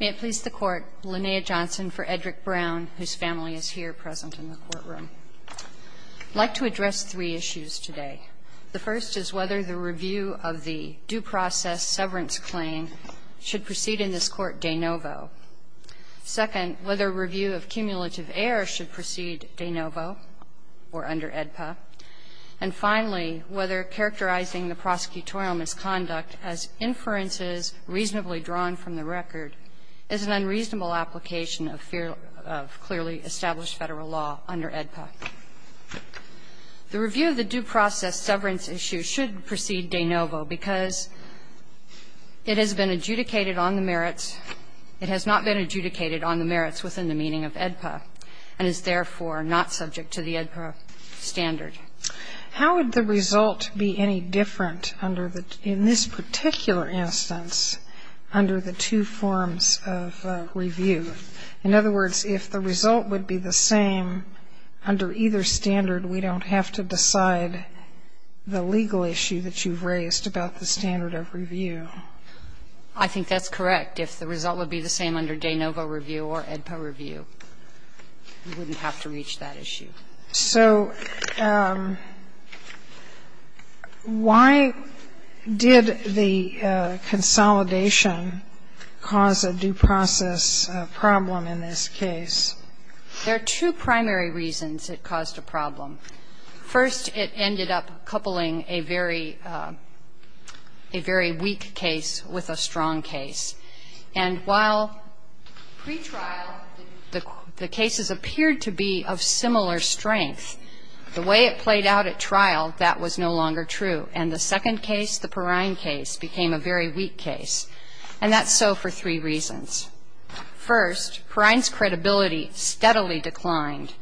May it please the Court, Linnea Johnson for Edrick Brown, whose family is here present in the courtroom. I'd like to address three issues today. The first is whether the review of the due process severance claim should proceed in this Court de novo. Second, whether review of cumulative error should proceed de novo or under AEDPA. And finally, whether characterizing the prosecutorial misconduct as inferences reasonably drawn from the record is an unreasonable application of clearly established Federal law under AEDPA. The review of the due process severance issue should proceed de novo because it has been adjudicated on the merits It has not been adjudicated on the merits within the meaning of AEDPA and is therefore not subject to the AEDPA standard. How would the result be any different under the, in this particular instance, under the two forms of review? In other words, if the result would be the same under either standard, we don't have to decide the legal issue that you've raised about the standard of review. I think that's correct. If the result would be the same under de novo review or AEDPA review, we wouldn't have to reach that issue. So why did the consolidation cause a due process problem in this case? There are two primary reasons it caused a problem. First, it ended up coupling a very, a very weak case with a strong case. And while pretrial, the cases appeared to be of similar strength, the way it played out at trial, that was no longer true. And the second case, the Perrine case, became a very weak case. And that's so for three reasons. First, Perrine's credibility steadily declined.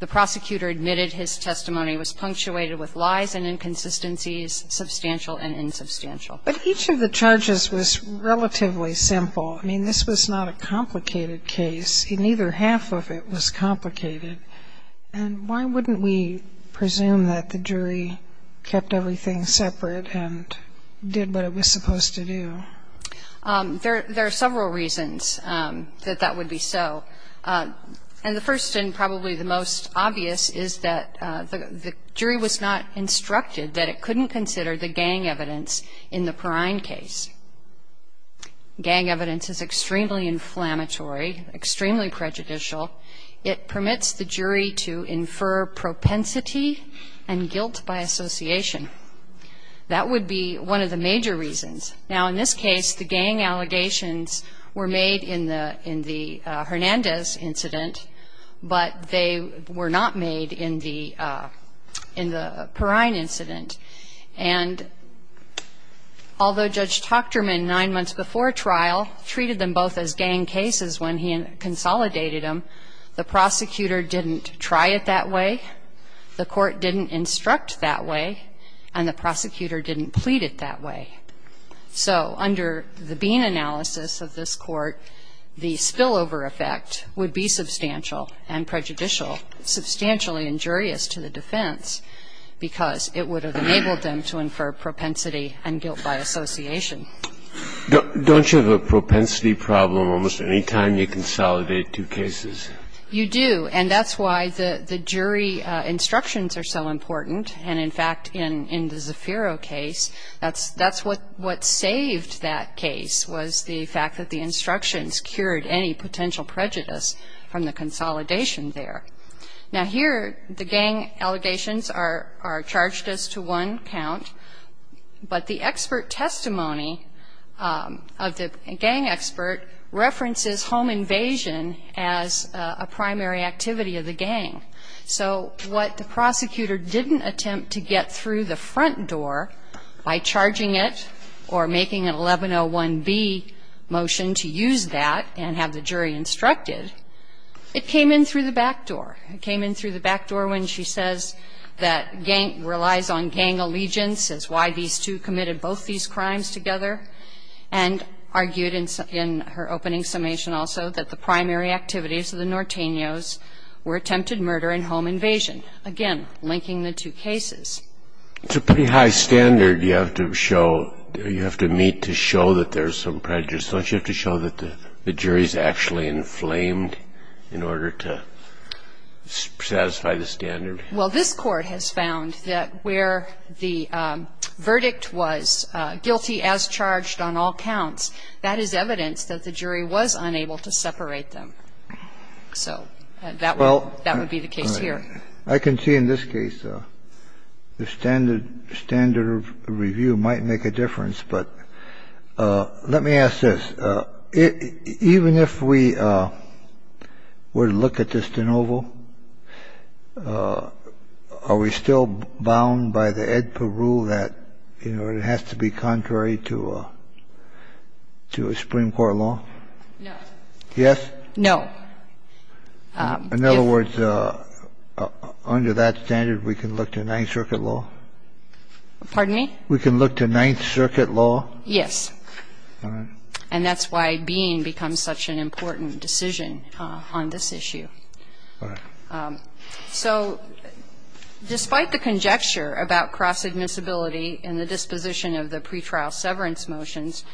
The prosecutor admitted his testimony was punctuated with lies and inconsistencies, substantial and insubstantial. But each of the charges was relatively simple. I mean, this was not a complicated case. Neither half of it was complicated. And why wouldn't we presume that the jury kept everything separate and did what it was supposed to do? There are several reasons that that would be so. And the first and probably the most obvious is that the jury was not instructed that it couldn't consider the gang evidence in the Perrine case. Gang evidence is extremely inflammatory, extremely prejudicial. It permits the jury to infer propensity and guilt by association. That would be one of the major reasons. Now, in this case, the gang allegations were made in the Hernandez incident, but they were not made in the Perrine incident. And although Judge Tochterman, nine months before trial, treated them both as gang cases when he consolidated them, the prosecutor didn't try it that way, the court didn't instruct that way, and the prosecutor didn't plead it that way. So under the Bean analysis of this Court, the spillover effect would be substantial and prejudicial, substantially injurious to the defense, because it would have enabled them to infer propensity and guilt by association. Don't you have a propensity problem almost any time you consolidate two cases? You do. And that's why the jury instructions are so important. And in fact, in the Zafiro case, that's what saved that case, was the fact that the instructions cured any potential prejudice from the consolidation there. Now, here the gang allegations are charged as to one count, but the expert testimony of the gang expert references home invasion as a primary activity of the gang. So what the prosecutor didn't attempt to get through the front door by charging it or making an 1101B motion to use that and have the jury instructed, it came in through the back door. It came in through the back door when she says that gang relies on gang allegiance, says why these two committed both these crimes together, and argued in her opening summation also that the primary activities of the Nortenos were attempted murder and home invasion, again, linking the two cases. It's a pretty high standard you have to show, you have to meet to show that there's some prejudice. Don't you have to show that the jury's actually inflamed in order to satisfy the standard? Well, this Court has found that where the verdict was guilty as charged on all counts, that is evidence that the jury was unable to separate them. So that would be the case here. I can see in this case the standard review might make a difference. But let me ask this. Even if we were to look at this de novo, are we still bound by the AEDPA rule that, you know, it has to be contrary to a Supreme Court law? No. Yes? No. In other words, under that standard, we can look to Ninth Circuit law? Pardon me? We can look to Ninth Circuit law? Yes. All right. And that's why Bean becomes such an important decision on this issue. All right. So despite the conjecture about cross-admissibility and the disposition of the pretrial severance motions,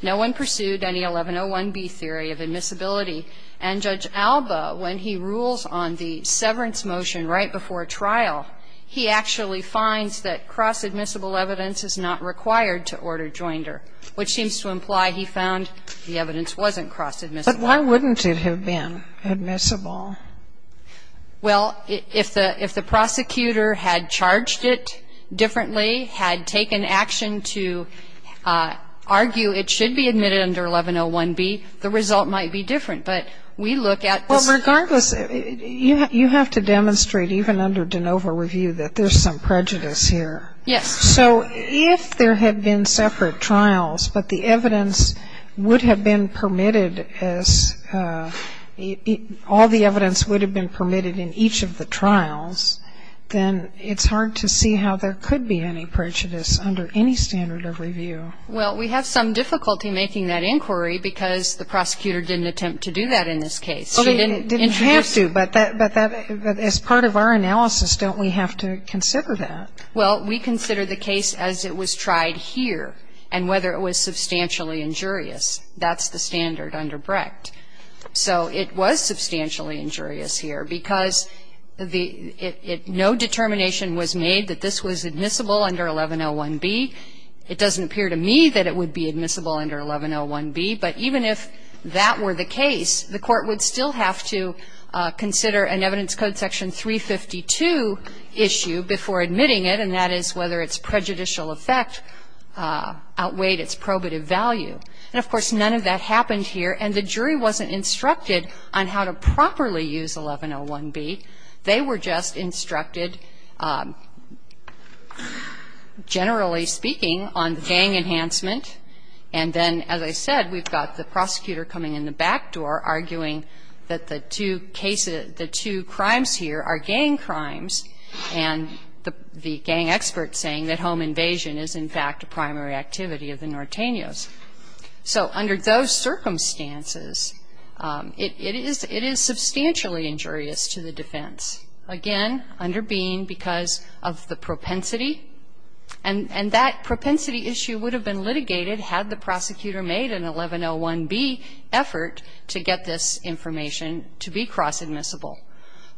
no one pursued any 1101B theory of admissibility. And Judge Alba, when he rules on the severance motion right before trial, he actually finds that cross-admissible evidence is not required to order joinder, which seems to imply he found the evidence wasn't cross-admissible. But why wouldn't it have been admissible? Well, if the prosecutor had charged it differently, had taken action to argue it should be admitted under 1101B, the result might be different. But we look at this. Well, regardless, you have to demonstrate, even under de novo review, that there's some prejudice here. Yes. So if there had been separate trials, but the evidence would have been permitted as all the evidence would have been permitted in each of the trials, then it's hard to see how there could be any prejudice under any standard of review. Well, we have some difficulty making that inquiry because the prosecutor didn't attempt to do that in this case. She didn't introduce it. Well, they didn't have to. But as part of our analysis, don't we have to consider that? Well, we consider the case as it was tried here and whether it was substantially injurious. That's the standard under Brecht. So it was substantially injurious here because the no determination was made that this was admissible under 1101B. It doesn't appear to me that it would be admissible under 1101B. But even if that were the case, the Court would still have to consider an evidence code section 352 issue before admitting it, and that is whether its prejudicial effect outweighed its probative value. And, of course, none of that happened here. And the jury wasn't instructed on how to properly use 1101B. They were just instructed, generally speaking, on gang enhancement. And then, as I said, we've got the prosecutor coming in the back door arguing that the two cases, the two crimes here are gang crimes, and the gang expert saying that home invasion is, in fact, a primary activity of the Nortenos. So under those circumstances, it is substantially injurious to the defense. Again, under Bean, because of the propensity. And that propensity issue would have been litigated had the prosecutor made an 1101B effort to get this information to be cross-admissible.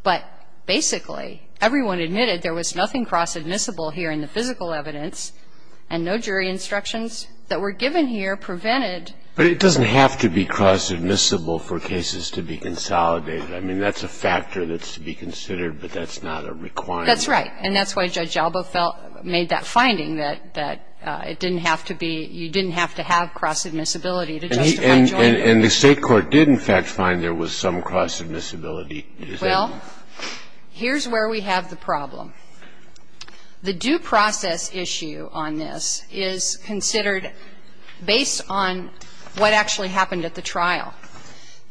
But basically, everyone admitted there was nothing cross-admissible here in the physical evidence, and no jury instructions that were given here prevented. But it doesn't have to be cross-admissible for cases to be consolidated. I mean, that's a factor that's to be considered, but that's not a requirement. That's right. And that's why Judge Alba felt – made that finding that it didn't have to be – you And the State court did, in fact, find there was some cross-admissibility. Well, here's where we have the problem. The due process issue on this is considered based on what actually happened at the trial.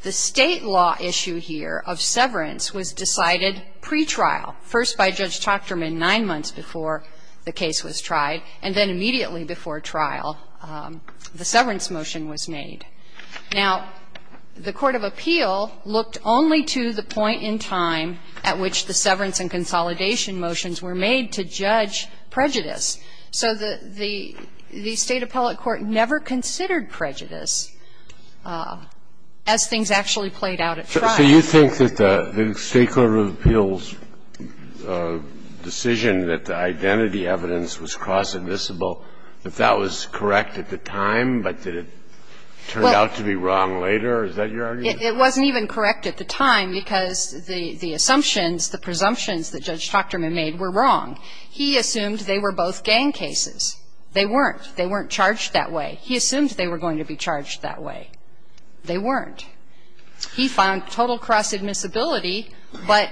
The State law issue here of severance was decided pretrial, first by Judge Tochterman nine months before the case was tried, and then immediately before trial the severance motion was made. Now, the court of appeal looked only to the point in time at which the severance and consolidation motions were made to judge prejudice. So the State appellate court never considered prejudice as things actually played out at trial. So you think that the State court of appeals' decision that the identity evidence was cross-admissible, if that was correct at the time, but did it turn out to be wrong later? Is that your argument? It wasn't even correct at the time because the assumptions, the presumptions that Judge Tochterman made were wrong. He assumed they were both gang cases. They weren't. They weren't charged that way. He assumed they were going to be charged that way. They weren't. He found total cross-admissibility, but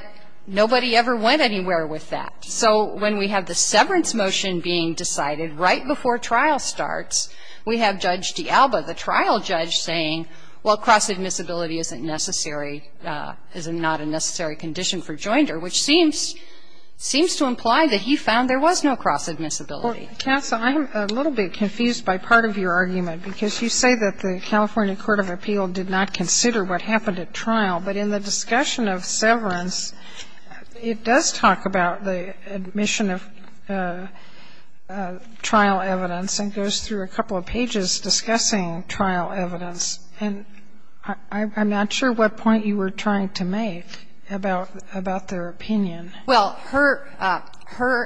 nobody ever went anywhere with that. So when we have the severance motion being decided right before trial starts, we have Judge D'Alba, the trial judge, saying, well, cross-admissibility isn't necessary, is not a necessary condition for joinder, which seems to imply that he found there was no cross-admissibility. Kassa, I'm a little bit confused by part of your argument because you say that the California court of appeal did not consider what happened at trial, but in the discussion of severance, it does talk about the admission of trial evidence and goes through a couple of pages discussing trial evidence. And I'm not sure what point you were trying to make about their opinion. Well, her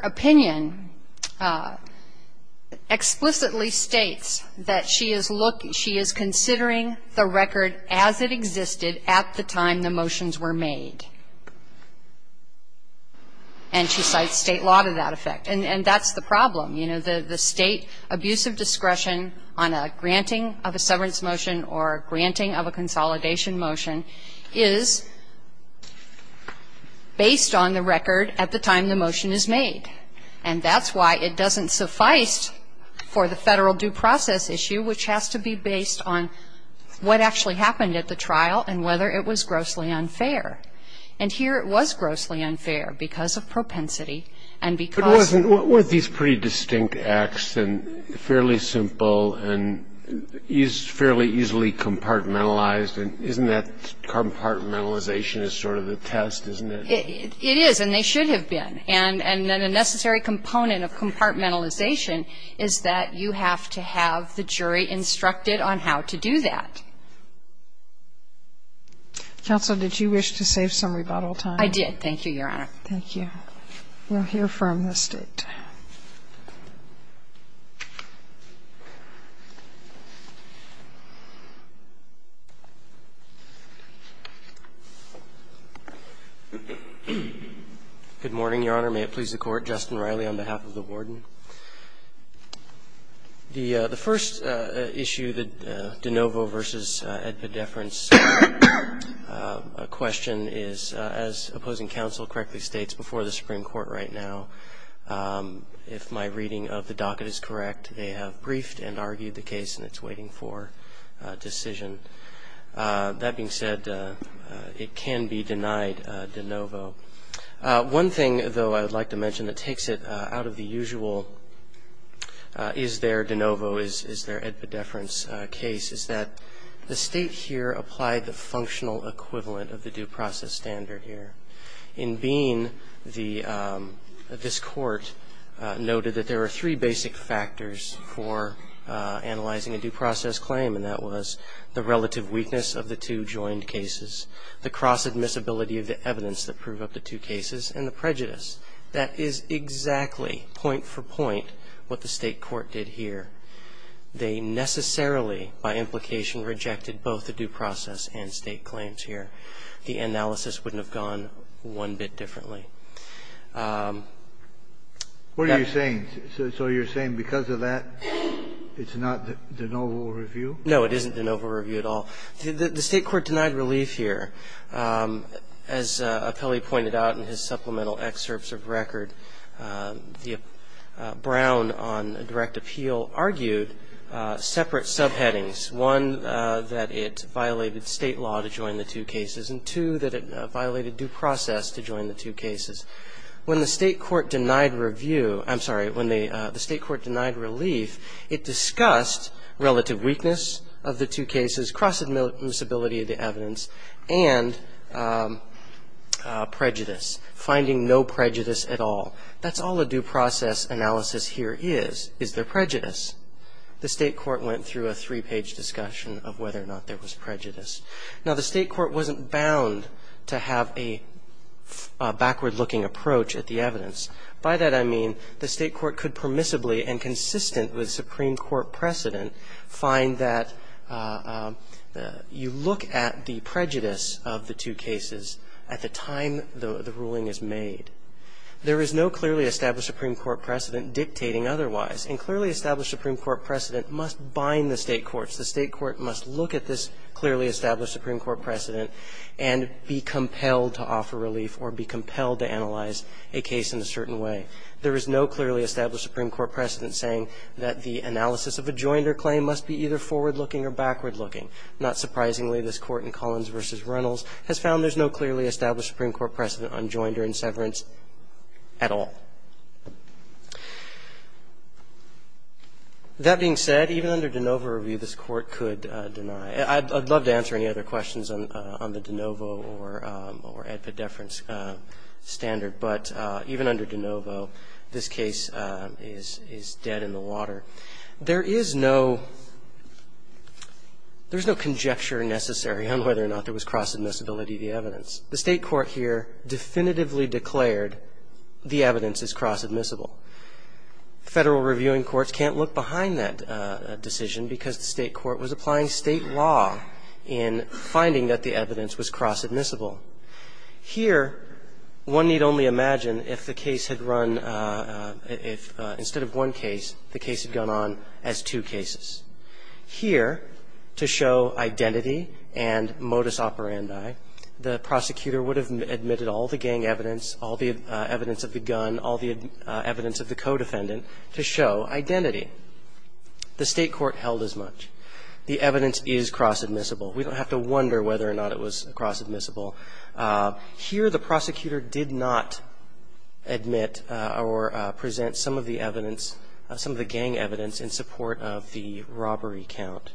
opinion explicitly states that she is considering the record as it existed at the time the motions were made. And she cites State law to that effect. And that's the problem. You know, the State abuse of discretion on a granting of a severance motion or granting of a consolidation motion is based on the record at the time the motion is made. And that's why it doesn't suffice for the Federal due process issue, which has to be based on what actually happened at the trial and whether it was grossly unfair. And here it was grossly unfair because of propensity and because of the statute. But wasn't these pretty distinct acts and fairly simple and fairly easily compartmentalized? And isn't that compartmentalization is sort of the test, isn't it? It is, and they should have been. And a necessary component of compartmentalization is that you have to have the jury instructed on how to do that. Kagan. Counsel, did you wish to save some rebuttal time? I did. Thank you, Your Honor. Thank you. We'll hear from the State. Good morning, Your Honor. May it please the Court. Justin Riley on behalf of the Warden. The first issue, the de novo versus epideference question is, as opposing counsel correctly states before the Supreme Court right now, if my reading of the docket is correct, they have briefed and argued the case and it's waiting for a decision. That being said, it can be denied de novo. One thing, though, I would like to mention that takes it out of the usual is there de novo, is there epideference case, is that the State here applied the functional equivalent of the due process standard here. In Bean, this Court noted that there are three basic factors for analyzing a due process claim, and that was the relative weakness of the two joined cases, the cross-admissibility of the evidence that proved up the two cases, and the prejudice. That is exactly point for point what the State Court did here. They necessarily, by implication, rejected both the due process and state claims here. The analysis wouldn't have gone one bit differently. What are you saying? So you're saying because of that, it's not de novo review? No, it isn't de novo review at all. The State Court denied relief here. As Apelli pointed out in his supplemental excerpts of record, Brown on direct appeal argued separate subheadings, one, that it violated state law to join the two cases, and two, that it violated due process to join the two cases. When the State Court denied review, I'm sorry, when the State Court denied relief, it discussed relative weakness of the two cases, cross-admissibility of the evidence, and prejudice, finding no prejudice at all. That's all a due process analysis here is, is there prejudice. The State Court went through a three-page discussion of whether or not there was prejudice. Now, the State Court wasn't bound to have a backward-looking approach at the evidence. By that, I mean the State Court could permissibly and consistent with the Supreme Court precedent find that you look at the prejudice of the two cases at the time the ruling is made. There is no clearly established Supreme Court precedent dictating otherwise. And clearly established Supreme Court precedent must bind the State courts. The State court must look at this clearly established Supreme Court precedent and be compelled to offer relief or be compelled to analyze a case in a certain way. There is no clearly established Supreme Court precedent saying that the analysis of a joinder claim must be either forward-looking or backward-looking. Not surprisingly, this Court in Collins v. Reynolds has found there's no clearly established Supreme Court precedent on joinder and severance at all. That being said, even under de novo review, this Court could deny. I'd love to answer any other questions on the de novo or epideference standard, but even under de novo, this case is dead in the water. There is no conjecture necessary on whether or not there was cross-admissibility of the evidence. The State court here definitively declared the evidence is cross-admissible. Federal reviewing courts can't look behind that decision because the State court was caught in finding that the evidence was cross-admissible. Here, one need only imagine if the case had run, if instead of one case, the case had gone on as two cases. Here, to show identity and modus operandi, the prosecutor would have admitted all the gang evidence, all the evidence of the gun, all the evidence of the co-defendant, to show identity. The State court held as much. The evidence is cross-admissible. We don't have to wonder whether or not it was cross-admissible. Here, the prosecutor did not admit or present some of the evidence, some of the gang evidence, in support of the robbery count.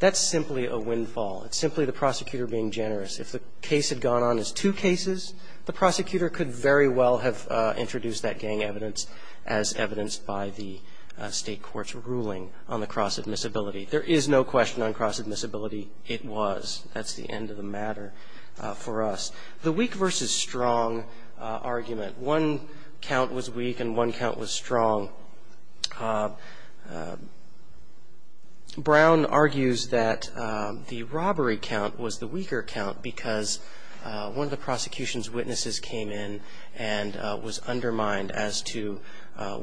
That's simply a windfall. It's simply the prosecutor being generous. If the case had gone on as two cases, the prosecutor could very well have introduced that gang evidence as evidenced by the State court's ruling on the cross-admissibility. There is no question on cross-admissibility. It was. That's the end of the matter for us. The weak versus strong argument, one count was weak and one count was strong. Brown argues that the robbery count was the weaker count because one of the prosecution's witnesses came in and was undermined as to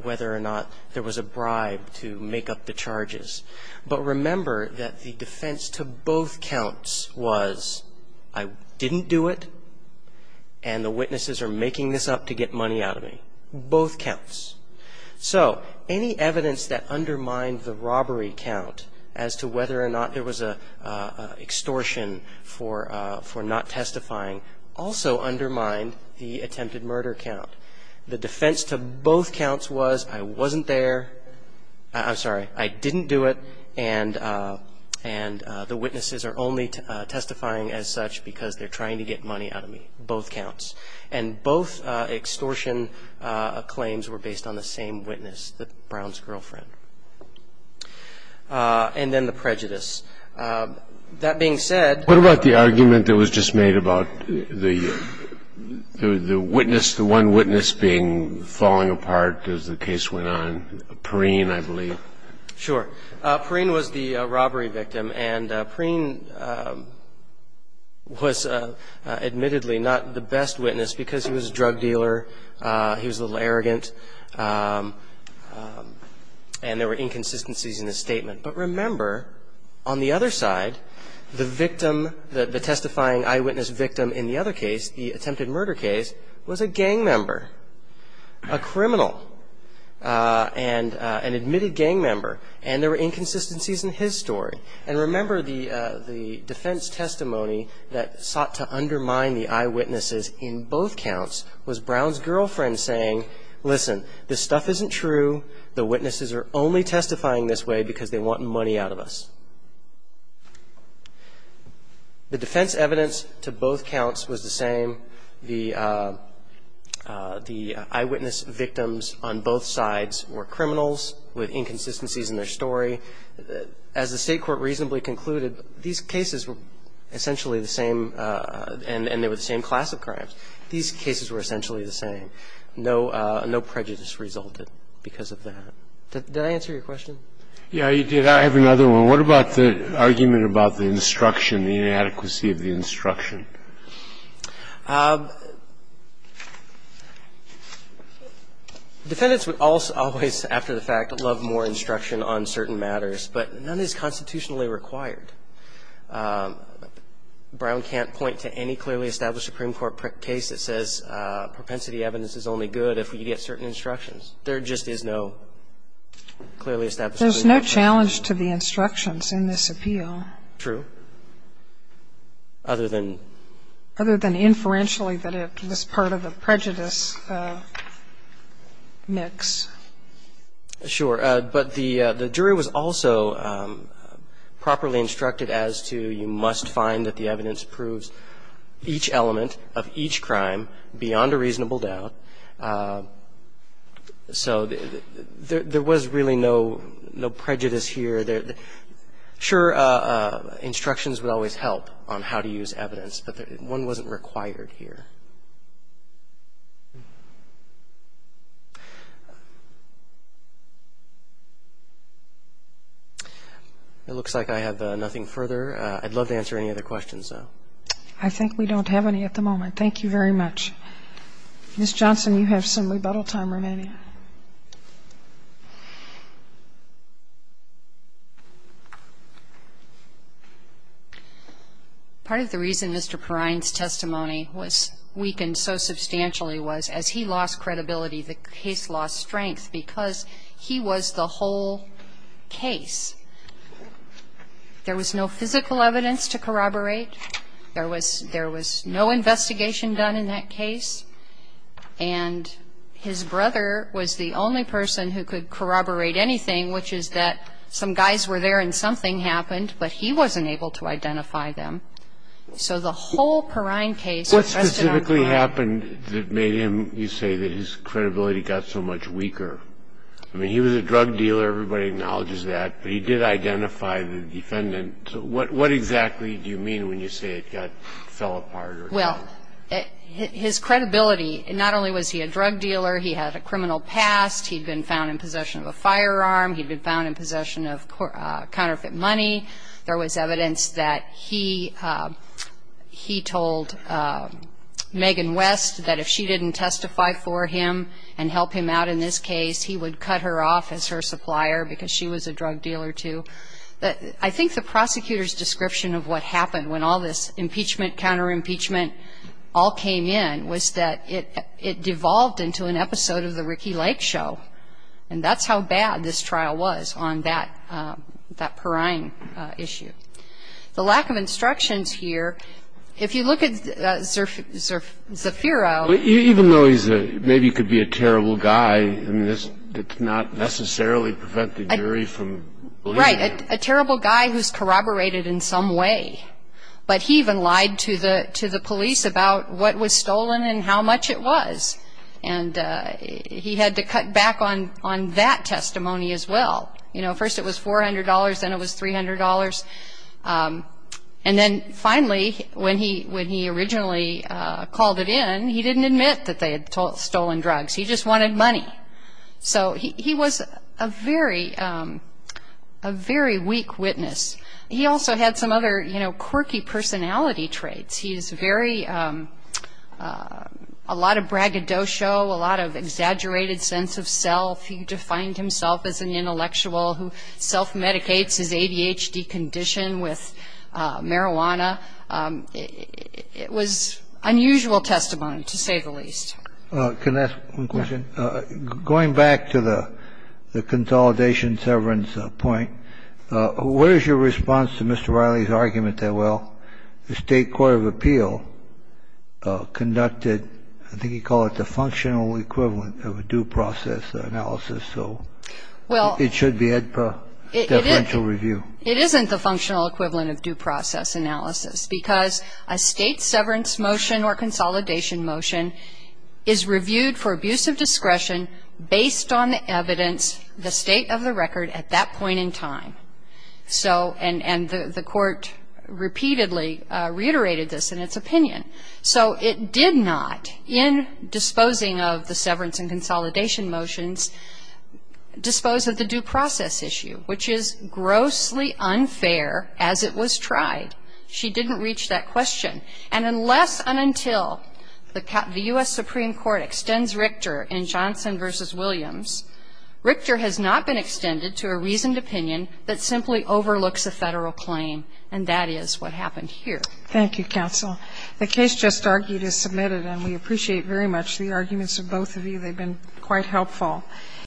whether or not there was a bribe to make up the charges. But remember that the defense to both counts was, I didn't do it, and the witnesses are making this up to get money out of me. Both counts. So any evidence that undermined the robbery count as to whether or not there was an extortion for not testifying also undermined the attempted murder count. The defense to both counts was, I wasn't there, I'm sorry, I didn't do it, and the witnesses are only testifying as such because they're trying to get money out of me. Both counts. And both extortion claims were based on the same witness, Brown's girlfriend. And then the prejudice. That being said the argument that was just made about the witness, the one witness being falling apart as the case went on, Perrine, I believe. Sure. Perrine was the robbery victim and Perrine was admittedly not the best witness because he was a drug dealer, he was a little arrogant, and there were inconsistencies in his statement. But remember, on the other side, the victim, the testifying eyewitness victim in the other case was a gang member, a criminal, an admitted gang member, and there were inconsistencies in his story. And remember, the defense testimony that sought to undermine the eyewitnesses in both counts was Brown's girlfriend saying, listen, this stuff isn't true, the witnesses are only testifying this way because they want money out of us. The defense evidence to both counts was the same. The eyewitness victims on both sides were criminals with inconsistencies in their story. As the State court reasonably concluded, these cases were essentially the same and they were the same class of crimes. These cases were essentially the same. No prejudice resulted because of that. Did I answer your question? Yeah, you did. I have another one. And what about the argument about the instruction, the inadequacy of the instruction? Defendants would always, after the fact, love more instruction on certain matters, but none is constitutionally required. Brown can't point to any clearly established Supreme Court case that says propensity evidence is only good if we get certain instructions. There just is no clearly established Supreme Court case. There's no challenge to the instructions in this appeal. True. Other than? Other than inferentially that it was part of a prejudice mix. Sure. But the jury was also properly instructed as to you must find that the evidence proves each element of each crime beyond a reasonable doubt. So there was really no prejudice here. Sure, instructions would always help on how to use evidence, but one wasn't required here. It looks like I have nothing further. I'd love to answer any other questions, though. I think we don't have any at the moment. Thank you very much. Ms. Johnson, you have some rebuttal time remaining. Part of the reason Mr. Perrine's testimony was weakened so substantially was as he lost credibility, the case lost strength because he was the whole case. There was no physical evidence to corroborate. There was no investigation done in that case. And his brother was the only person who could corroborate anything, which is that some guys were there and something happened, but he wasn't able to identify them. So the whole Perrine case rested on Perrine. What specifically happened that made him, you say, that his credibility got so much weaker? I mean, he was a drug dealer. Everybody acknowledges that. But he did identify the defendant. What exactly do you mean when you say it fell apart? Well, his credibility, not only was he a drug dealer, he had a criminal past. He'd been found in possession of a firearm. He'd been found in possession of counterfeit money. There was evidence that he told Megan West that if she didn't testify for him and help him out in this case, he would cut her off as her supplier because she was a drug dealer, too. I think the prosecutor's description of what happened when all this impeachment, counterimpeachment all came in was that it devolved into an episode of the Ricky Lake show. And that's how bad this trial was on that Perrine issue. The lack of instructions here, if you look at Zafiro. Even though he's a, maybe he could be a terrible guy, it does not necessarily prevent the jury from believing him. Right. A terrible guy who's corroborated in some way. But he even lied to the police about what was stolen and how much it was. And he had to cut back on that testimony as well. You know, first it was $400, then it was $300. And then finally, when he originally called it in, he didn't admit that they had stolen drugs. He just wanted money. So he was a very weak witness. He also had some other, you know, quirky personality traits. He's very, a lot of braggadocio, a lot of exaggerated sense of self. He defined himself as an intellectual who self-medicates his ADHD condition with marijuana. It was unusual testimony, to say the least. Can I ask one question? Going back to the consolidation severance point, what is your response to Mr. Riley's argument that, well, the State Court of Appeal conducted, I think you call it the functional equivalent of a due process analysis. So it should be a deferential review. It isn't the functional equivalent of due process analysis. Because a state severance motion or consolidation motion is reviewed for abuse of discretion based on the evidence, the state of the record at that point in time. And the court repeatedly reiterated this in its opinion. So it did not, in disposing of the severance and consolidation motions, dispose of the due process issue, which is grossly unfair as it was tried. She didn't reach that question. And unless and until the U.S. Supreme Court extends Richter in Johnson v. Williams, Richter has not been extended to a reasoned opinion that simply overlooks a Federal claim. And that is what happened here. Thank you, counsel. The case just argued is submitted, and we appreciate very much the arguments of both of you. They've been quite helpful.